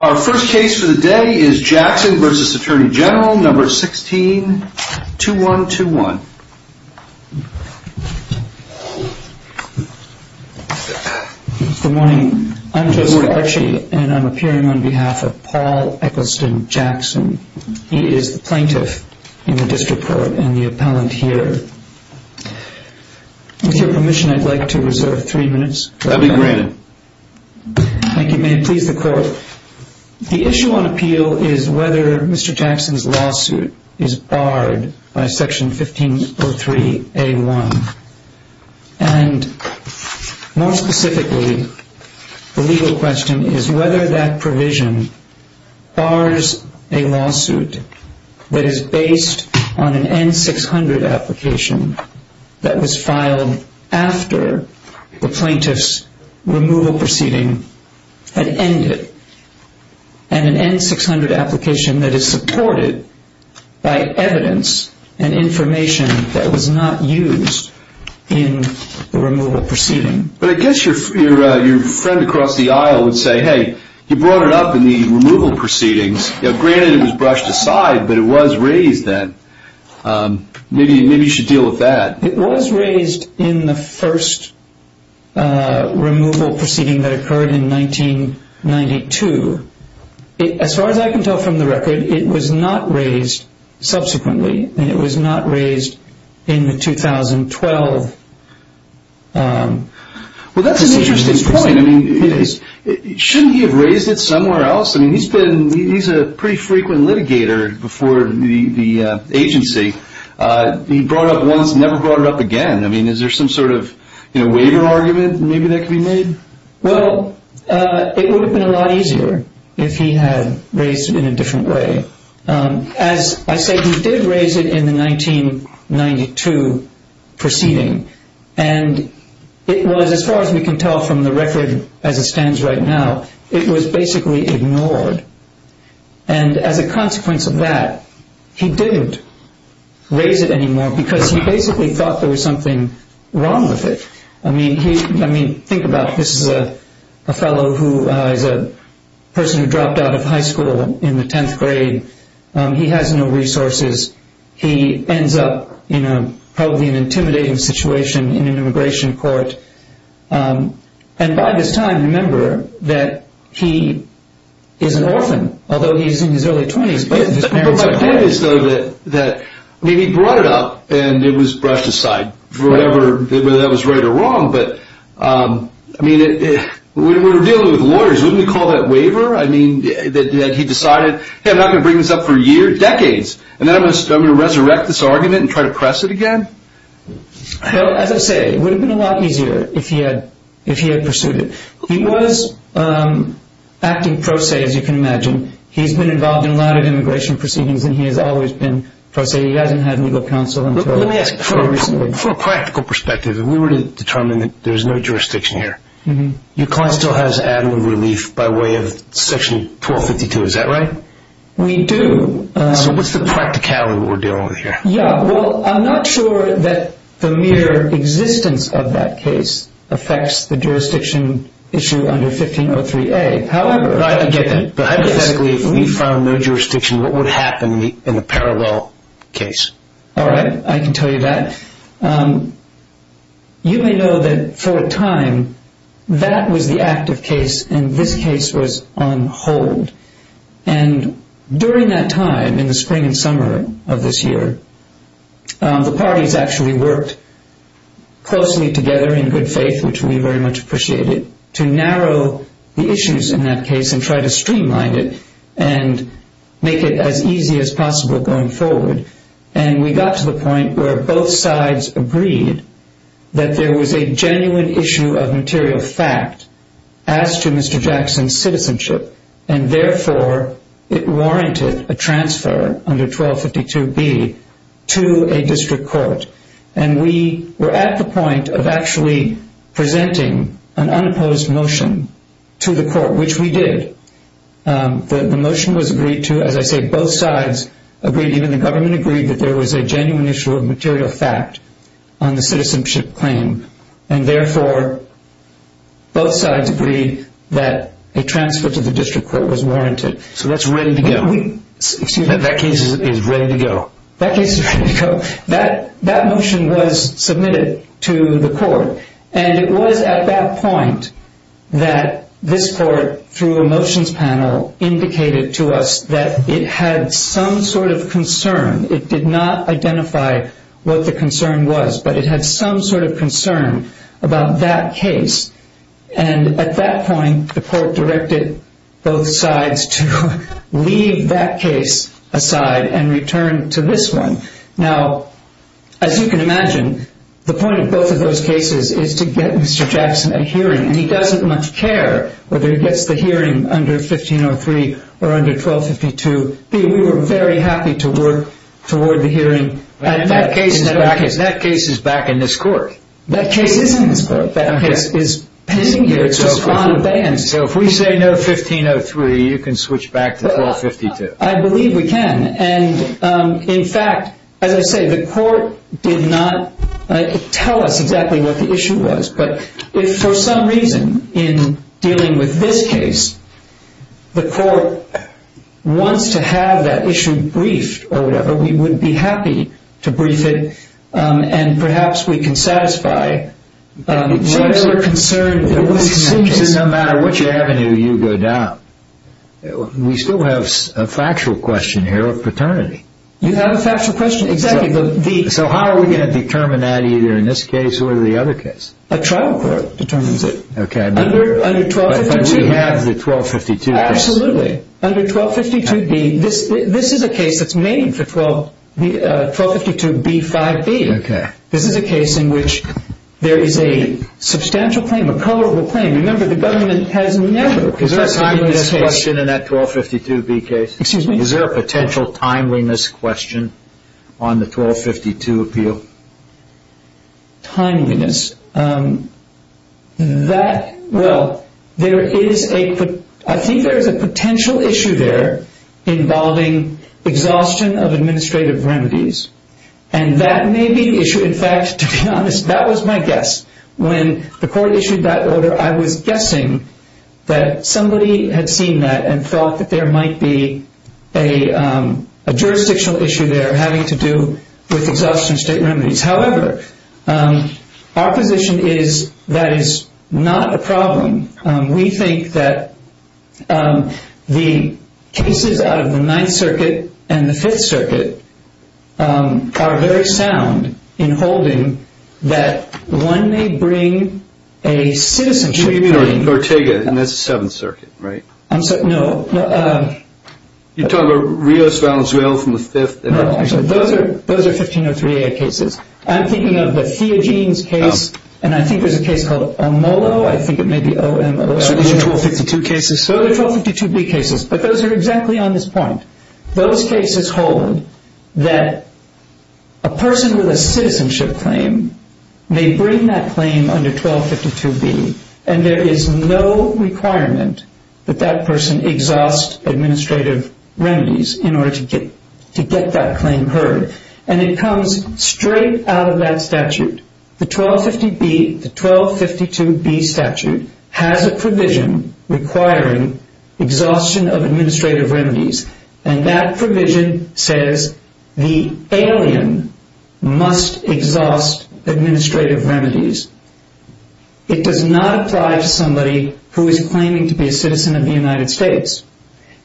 Our first case for the day is Jackson v. Attorney General, No. 16, 2-1-2-1. Good morning. I'm Joseph Archie, and I'm appearing on behalf of Paul Eccleston Jackson. He is the plaintiff in the district court and the appellant here. With your permission, I'd like to reserve three minutes. That'd be granted. Thank you. May it please the court. The issue on appeal is whether Mr. Jackson's lawsuit is barred by Section 1503A1. And more specifically, the legal question is whether that provision bars a lawsuit that is based on an N-600 application that was filed after the plaintiff's removal proceeding had ended. And an N-600 application that is supported by evidence and information that was not used in the removal proceeding. But I guess your friend across the aisle would say, hey, you brought it up in the removal proceedings. Granted, it was brushed aside, but it was raised then. Maybe you should deal with that. It was raised in the first removal proceeding that occurred in 1992. As far as I can tell from the record, it was not raised subsequently, and it was not raised in the 2012. Well, that's an interesting point. I mean, shouldn't he have raised it somewhere else? I mean, he's a pretty frequent litigator before the agency. He brought it up once, never brought it up again. I mean, is there some sort of waiver argument maybe that could be made? Well, it would have been a lot easier if he had raised it in a different way. As I said, he did raise it in the 1992 proceeding. And it was, as far as we can tell from the record as it stands right now, it was basically ignored. And as a consequence of that, he didn't raise it anymore because he basically thought there was something wrong with it. I mean, think about it. This is a fellow who is a person who dropped out of high school in the 10th grade. He has no resources. He ends up in probably an intimidating situation in an immigration court. And by this time, remember that he is an orphan, although he's in his early 20s. But my point is, though, that he brought it up, and it was brushed aside, whether that was right or wrong. But, I mean, when we're dealing with lawyers, wouldn't we call that waiver? I mean, that he decided, hey, I'm not going to bring this up for a year, decades, and then I'm going to resurrect this argument and try to press it again? Well, as I say, it would have been a lot easier if he had pursued it. He was acting pro se, as you can imagine. He's been involved in a lot of immigration proceedings, and he has always been pro se. He hasn't had legal counsel until very recently. Let me ask you, from a practical perspective, if we were to determine that there's no jurisdiction here, your client still has ad lib relief by way of Section 1252, is that right? We do. So what's the practicality of what we're dealing with here? Yeah, well, I'm not sure that the mere existence of that case affects the jurisdiction issue under 1503A. I get that. But hypothetically, if we found no jurisdiction, what would happen in a parallel case? All right, I can tell you that. You may know that for a time that was the active case, and this case was on hold. And during that time, in the spring and summer of this year, the parties actually worked closely together in good faith, which we very much appreciated, to narrow the issues in that case and try to streamline it and make it as easy as possible going forward. And we got to the point where both sides agreed that there was a genuine issue of material fact as to Mr. Jackson's citizenship, and therefore it warranted a transfer under 1252B to a district court. And we were at the point of actually presenting an unopposed motion to the court, which we did. The motion was agreed to. As I say, both sides agreed, even the government agreed, that there was a genuine issue of material fact on the citizenship claim, and therefore both sides agreed that a transfer to the district court was warranted. So that's ready to go. That case is ready to go. That case is ready to go. That motion was submitted to the court, and it was at that point that this court, through a motions panel, indicated to us that it had some sort of concern. It did not identify what the concern was, but it had some sort of concern about that case. And at that point, the court directed both sides to leave that case aside and return to this one. Now, as you can imagine, the point of both of those cases is to get Mr. Jackson a hearing, and he doesn't much care whether he gets the hearing under 1503 or under 1252B. We were very happy to work toward the hearing. And that case is back in this court. That case is in this court. That case is pending here. So if we say no 1503, you can switch back to 1252. I believe we can. And, in fact, as I say, the court did not tell us exactly what the issue was. But if for some reason in dealing with this case the court wants to have that issue briefed or whatever, we would be happy to brief it, and perhaps we can satisfy whatever concern there was in that case. This is no matter which avenue you go down. We still have a factual question here of paternity. You have a factual question. Exactly. So how are we going to determine that either in this case or the other case? A trial court determines it. Okay. Under 1252. But we have the 1252 case. Absolutely. Under 1252B, this is a case that's made for 1252B5B. Okay. This is a case in which there is a substantial claim, a colorable claim. Remember, the government has never requested in this case. Is there a timeliness question in that 1252B case? Excuse me? Is there a potential timeliness question on the 1252 appeal? Timeliness. Well, I think there is a potential issue there involving exhaustion of administrative remedies, and that may be the issue. In fact, to be honest, that was my guess. When the court issued that order, I was guessing that somebody had seen that and thought that there might be a jurisdictional issue there having to do with exhaustion of state remedies. However, our position is that is not a problem. We think that the cases out of the Ninth Circuit and the Fifth Circuit are very sound in holding that one may bring a citizenship claim. You mean Ortega in the Seventh Circuit, right? No. You're talking about Rios Valenzuela from the Fifth? No. Those are 1503A cases. I'm thinking of the Theogenes case, and I think there's a case called Olmolo. I think it may be Olmolo. So these are 1252 cases? Those are 1252B cases, but those are exactly on this point. Those cases hold that a person with a citizenship claim may bring that claim under 1252B, and there is no requirement that that person exhaust administrative remedies in order to get that claim heard, and it comes straight out of that statute. The 1252B statute has a provision requiring exhaustion of administrative remedies, and that provision says the alien must exhaust administrative remedies. It does not apply to somebody who is claiming to be a citizen of the United States,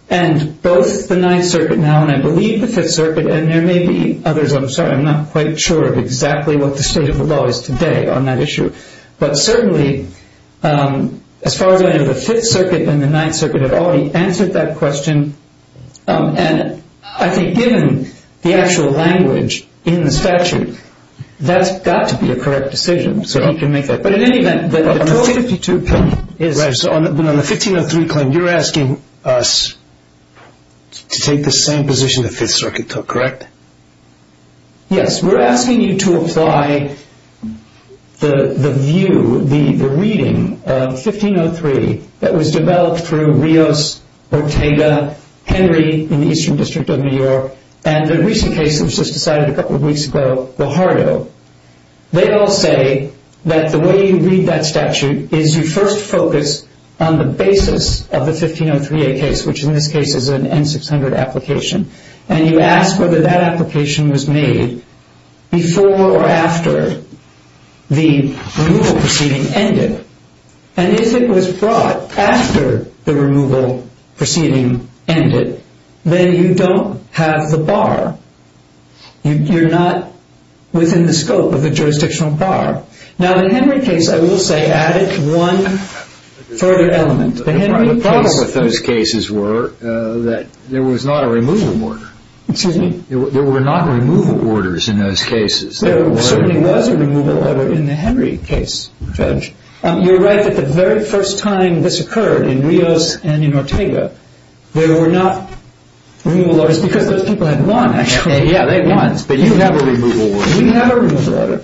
and both the Ninth Circuit now, and I believe the Fifth Circuit, and there may be others. I'm sorry. I'm not quite sure of exactly what the state of the law is today on that issue, but certainly as far as I know, the Fifth Circuit and the Ninth Circuit have already answered that question, and I think given the actual language in the statute, that's got to be a correct decision so he can make that claim. But in any event, the 1252 claim is... Yes, we're asking you to apply the view, the reading of 1503 that was developed through Rios, Ortega, Henry in the Eastern District of New York, and the recent case that was just decided a couple of weeks ago, Guajardo. They all say that the way you read that statute is you first focus on the basis of the 1503A case, which in this case is an N-600 application, and you ask whether that application was made before or after the removal proceeding ended. And if it was brought after the removal proceeding ended, then you don't have the bar. You're not within the scope of the jurisdictional bar. Now, the Henry case, I will say, added one further element. The problem with those cases were that there was not a removal order. Excuse me? There were not removal orders in those cases. There certainly was a removal order in the Henry case, Judge. You're right that the very first time this occurred in Rios and in Ortega, there were not removal orders because those people had won, actually. Yeah, they'd won, but you have a removal order. We have a removal order.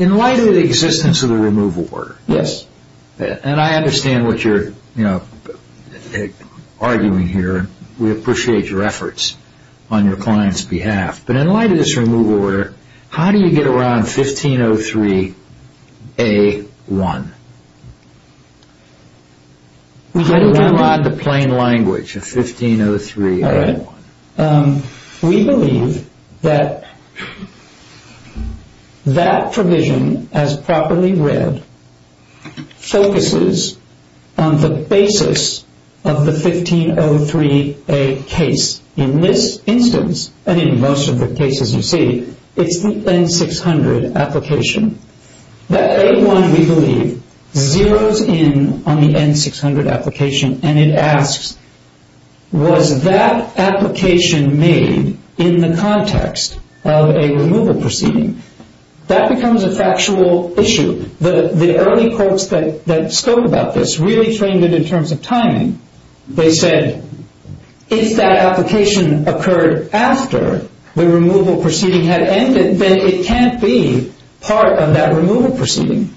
In light of the existence of the removal order. Yes. And I understand what you're arguing here. We appreciate your efforts on your client's behalf. But in light of this removal order, how do you get around 1503A-1? How do you get around the plain language of 1503A-1? We believe that that provision, as properly read, focuses on the basis of the 1503A case. In this instance, and in most of the cases you see, it's the N-600 application. That A-1, we believe, zeros in on the N-600 application and it asks, was that application made in the context of a removal proceeding? That becomes a factual issue. The early courts that spoke about this really trained it in terms of timing. They said, if that application occurred after the removal proceeding had ended, then it can't be part of that removal proceeding.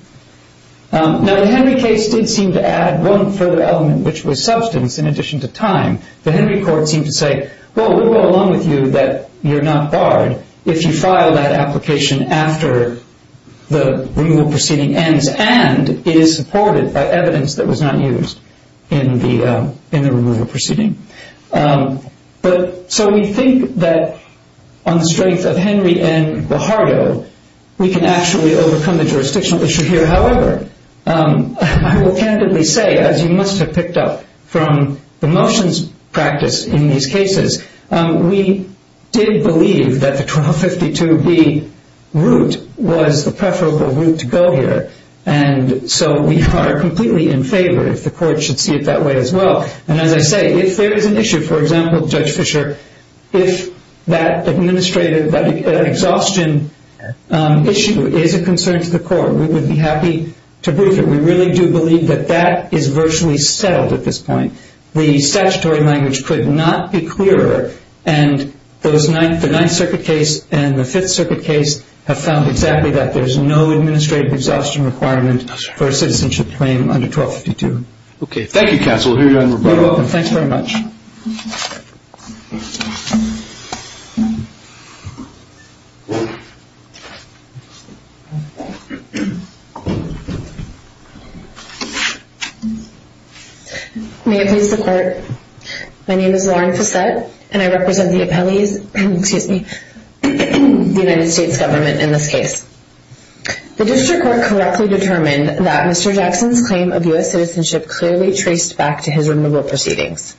Now, the Henry case did seem to add one further element, which was substance, in addition to time. The Henry court seemed to say, well, it would go along with you that you're not barred if you file that application after the removal proceeding ends and it is supported by evidence that was not used in the removal proceeding. So we think that on the strength of Henry and Guajardo, we can actually overcome the jurisdictional issue here. However, I will candidly say, as you must have picked up from the motions practice in these cases, we did believe that the 1252B route was the preferable route to go here, and so we are completely in favor if the court should see it that way as well. And as I say, if there is an issue, for example, Judge Fischer, if that administrative exhaustion issue is a concern to the court, we would be happy to brief it. We really do believe that that is virtually settled at this point. The statutory language could not be clearer, and the Ninth Circuit case and the Fifth Circuit case have found exactly that. There is no administrative exhaustion requirement for a citizenship claim under 1252. Okay, thank you, counsel. We'll hear you on the rebuttal. You're welcome. Thanks very much. May it please the Court. My name is Lauren Fossette, and I represent the appellees, excuse me, the United States government in this case. The district court correctly determined that Mr. Jackson's claim of U.S. citizenship clearly traced back to his removal proceedings.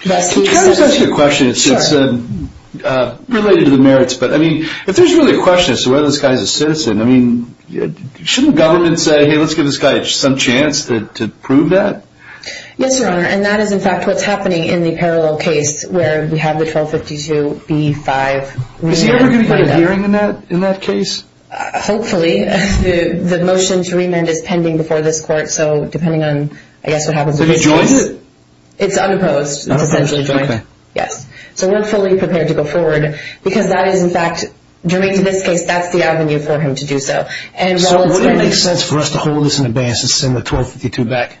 Can I just ask you a question? It's related to the merits, but I mean, if there's really a question as to whether this guy is a citizen, I mean, shouldn't government say, hey, let's give this guy some chance to prove that? Yes, Your Honor, and that is, in fact, what's happening in the parallel case where we have the 1252B-5 route. Is he ever going to get a hearing in that case? Hopefully. The motion to remand is pending before this Court, so depending on, I guess, what happens with this case. Is he joined? It's unopposed. It's essentially joined. Okay. Yes. So we're fully prepared to go forward because that is, in fact, during this case, that's the avenue for him to do so. So would it make sense for us to hold this in advance and send the 1252 back?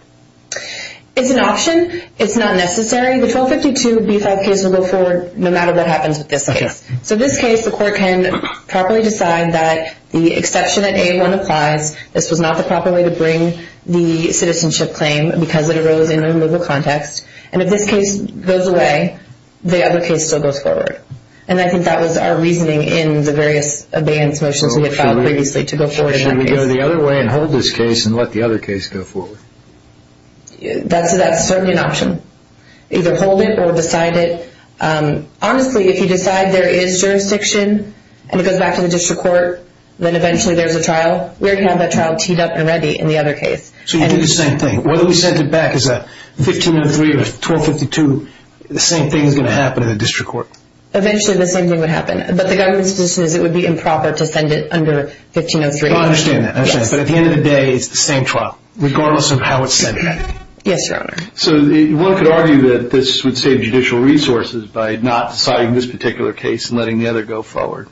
It's an option. It's not necessary. The 1252B-5 case will go forward no matter what happens with this case. So in this case, the Court can properly decide that the exception that A-1 applies, this was not the proper way to bring the citizenship claim because it arose in a removal context, and if this case goes away, the other case still goes forward. And I think that was our reasoning in the various abeyance motions we had filed previously to go forward. So should we go the other way and hold this case and let the other case go forward? That's certainly an option. Either hold it or decide it. Honestly, if you decide there is jurisdiction and it goes back to the district court, then eventually there's a trial. We're going to have that trial teed up and ready in the other case. So you do the same thing. Whether we send it back as a 1503 or a 1252, the same thing is going to happen in the district court. Eventually the same thing would happen. But the government's position is it would be improper to send it under 1503. I understand that. But at the end of the day, it's the same trial regardless of how it's sent back. Yes, Your Honor. So one could argue that this would save judicial resources by not deciding this particular case and letting the other go forward.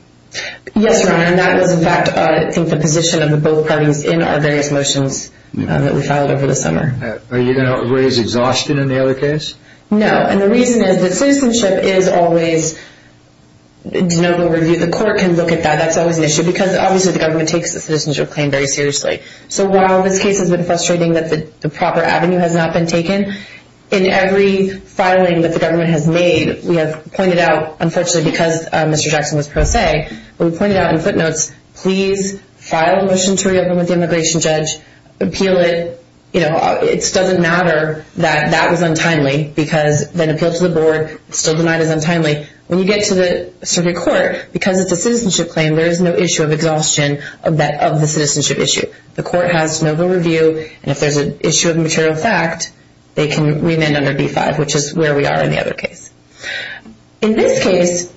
Yes, Your Honor. And that was, in fact, I think the position of both parties in our various motions that we filed over the summer. Are you going to raise exhaustion in the other case? No. And the reason is that citizenship is always, the court can look at that, that's always an issue, because obviously the government takes the citizenship claim very seriously. So while this case has been frustrating that the proper avenue has not been taken, in every filing that the government has made, we have pointed out, unfortunately, because Mr. Jackson was pro se, we pointed out in footnotes, please file a motion to reopen with the immigration judge, appeal it, you know, it doesn't matter that that was untimely because then appeal to the board, still denied as untimely. When you get to the circuit court, because it's a citizenship claim, there is no issue of exhaustion of the citizenship issue. The court has to know the review, and if there's an issue of material fact, they can remand under D-5, which is where we are in the other case. In this case,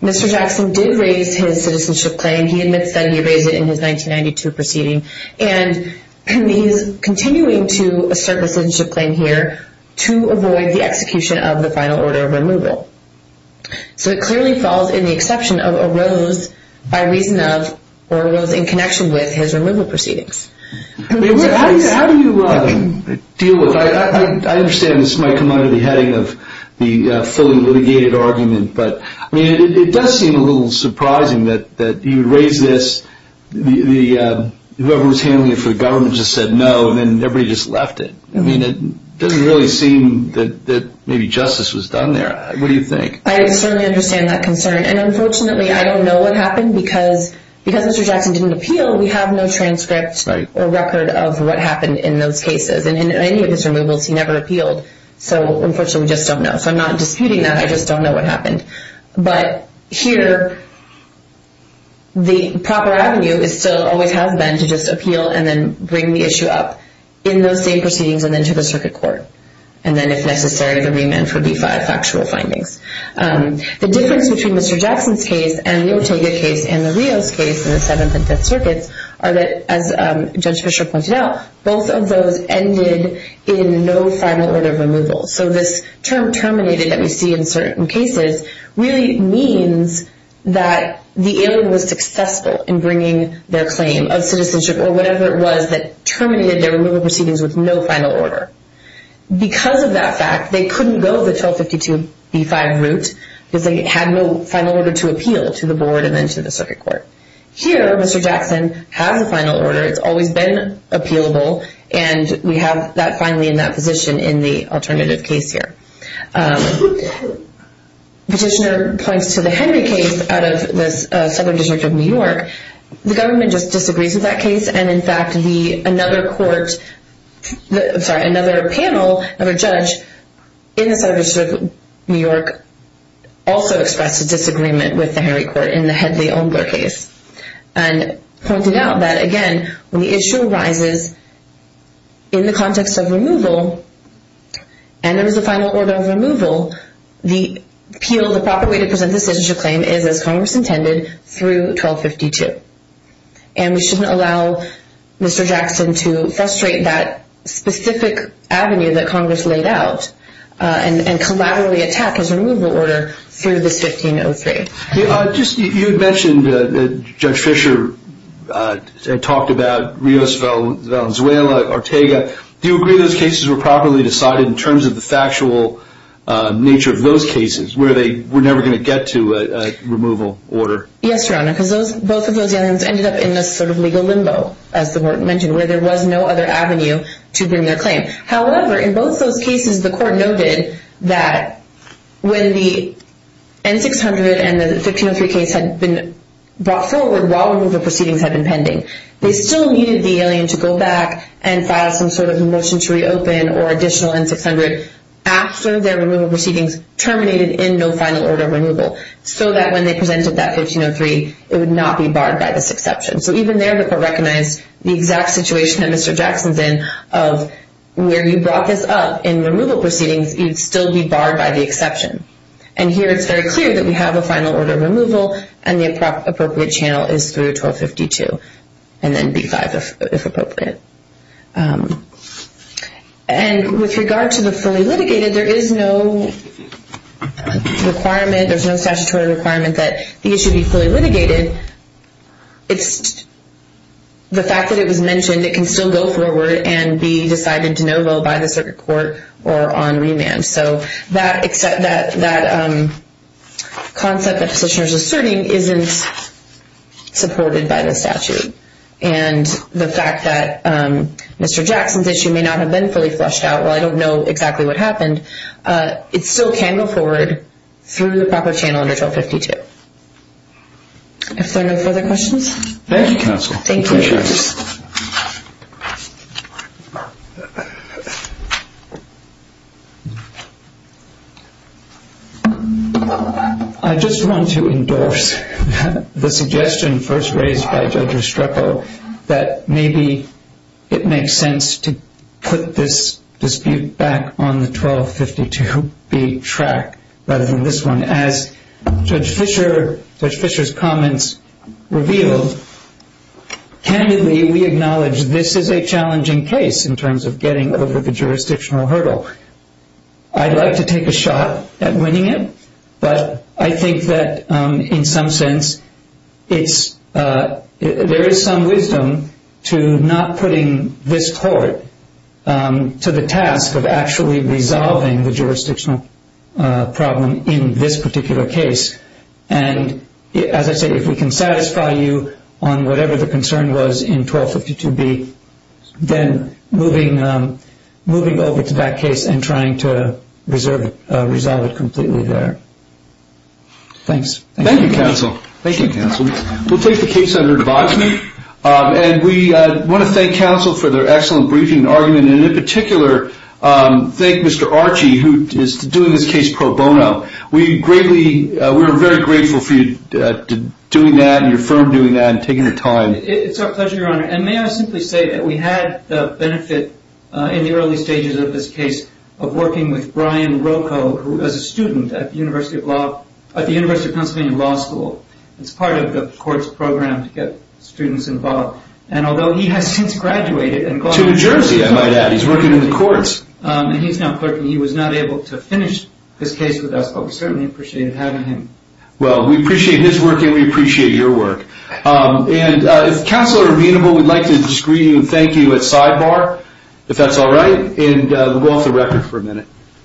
Mr. Jackson did raise his citizenship claim. He admits that he raised it in his 1992 proceeding, and he's continuing to assert the citizenship claim here to avoid the execution of the final order of removal. So it clearly falls in the exception of arose by reason of or arose in connection with his removal proceedings. How do you deal with that? I understand this might come under the heading of the fully litigated argument, but it does seem a little surprising that you raise this, whoever was handling it for the government just said no, and then everybody just left it. I mean, it doesn't really seem that maybe justice was done there. What do you think? I certainly understand that concern, and unfortunately, I don't know what happened, because Mr. Jackson didn't appeal, we have no transcript or record of what happened in those cases, and in any of his removals, he never appealed. So unfortunately, we just don't know. So I'm not disputing that. I just don't know what happened. But here, the proper avenue still always has been to just appeal and then bring the issue up. In those same proceedings, and then to the circuit court, and then if necessary, the remand for D-5 factual findings. The difference between Mr. Jackson's case and the Ortega case and the Rios case in the Seventh and Fifth Circuits are that, as Judge Fischer pointed out, both of those ended in no final order of removal. So this term terminated that we see in certain cases really means that the alien was successful in bringing their claim of citizenship or whatever it was that terminated their removal proceedings with no final order. Because of that fact, they couldn't go the 1252 B-5 route, because they had no final order to appeal to the board and then to the circuit court. Here, Mr. Jackson has a final order, it's always been appealable, and we have that finally in that position in the alternative case here. Petitioner points to the Henry case out of the Southern District of New York. The government just disagrees with that case, and in fact another panel, another judge in the Southern District of New York also expressed a disagreement with the Henry court in the Hedley-Umbler case. And pointed out that, again, when the issue arises in the context of removal, and there was a final order of removal, the appeal, the proper way to present the citizenship claim is, as Congress intended, through 1252. And we shouldn't allow Mr. Jackson to frustrate that specific avenue that Congress laid out and collaboratively attack his removal order through this 1503. You had mentioned that Judge Fisher had talked about Rios-Valenzuela, Ortega. Do you agree those cases were properly decided in terms of the factual nature of those cases, where they were never going to get to a removal order? Yes, Your Honor, because both of those aliens ended up in this sort of legal limbo, as the court mentioned, where there was no other avenue to bring their claim. However, in both those cases, the court noted that when the N-600 and the 1503 case had been brought forward while removal proceedings had been pending, they still needed the alien to go back and file some sort of a motion to reopen or additional N-600 after their removal proceedings terminated in no final order of removal, so that when they presented that 1503, it would not be barred by this exception. So even there, the court recognized the exact situation that Mr. Jackson's in, of where you brought this up in removal proceedings, you'd still be barred by the exception. And here it's very clear that we have a final order of removal, and the appropriate channel is through 1252, and then B-5, if appropriate. And with regard to the fully litigated, there is no requirement, there's no statutory requirement that the issue be fully litigated. It's the fact that it was mentioned, it can still go forward and be decided in de novo by the circuit court or on remand. So that concept that the petitioner is asserting isn't supported by the statute. And the fact that Mr. Jackson's issue may not have been fully flushed out, while I don't know exactly what happened, it still can go forward through the proper channel under 1252. Are there no further questions? Thank you, counsel. Thank you. Thank you. I just want to endorse the suggestion first raised by Judge Estrepo that maybe it makes sense to put this dispute back on the 1252B track rather than this one. And as Judge Fischer's comments revealed, candidly we acknowledge this is a challenging case in terms of getting over the jurisdictional hurdle. I'd like to take a shot at winning it, but I think that in some sense there is some wisdom to not putting this court to the task of actually resolving the jurisdictional problem in this particular case. And as I say, if we can satisfy you on whatever the concern was in 1252B, then moving over to that case and trying to resolve it completely there. Thanks. Thank you, counsel. Thank you, counsel. We'll take the case under advice. And we want to thank counsel for their excellent briefing and argument, and in particular thank Mr. Archie who is doing this case pro bono. We are very grateful for you doing that and your firm doing that and taking the time. It's our pleasure, Your Honor. And may I simply say that we had the benefit in the early stages of this case of working with Brian Rocco, who was a student at the University of Pennsylvania Law School. It's part of the court's program to get students involved. And although he has since graduated and gone to New Jersey. To New Jersey, I might add. He's working in the courts. And he's now clerking. He was not able to finish this case with us, but we certainly appreciated having him. Well, we appreciate his work and we appreciate your work. And if counsel are amenable, we'd like to disagree and thank you at sidebar, if that's all right. And we'll go off the record for a minute.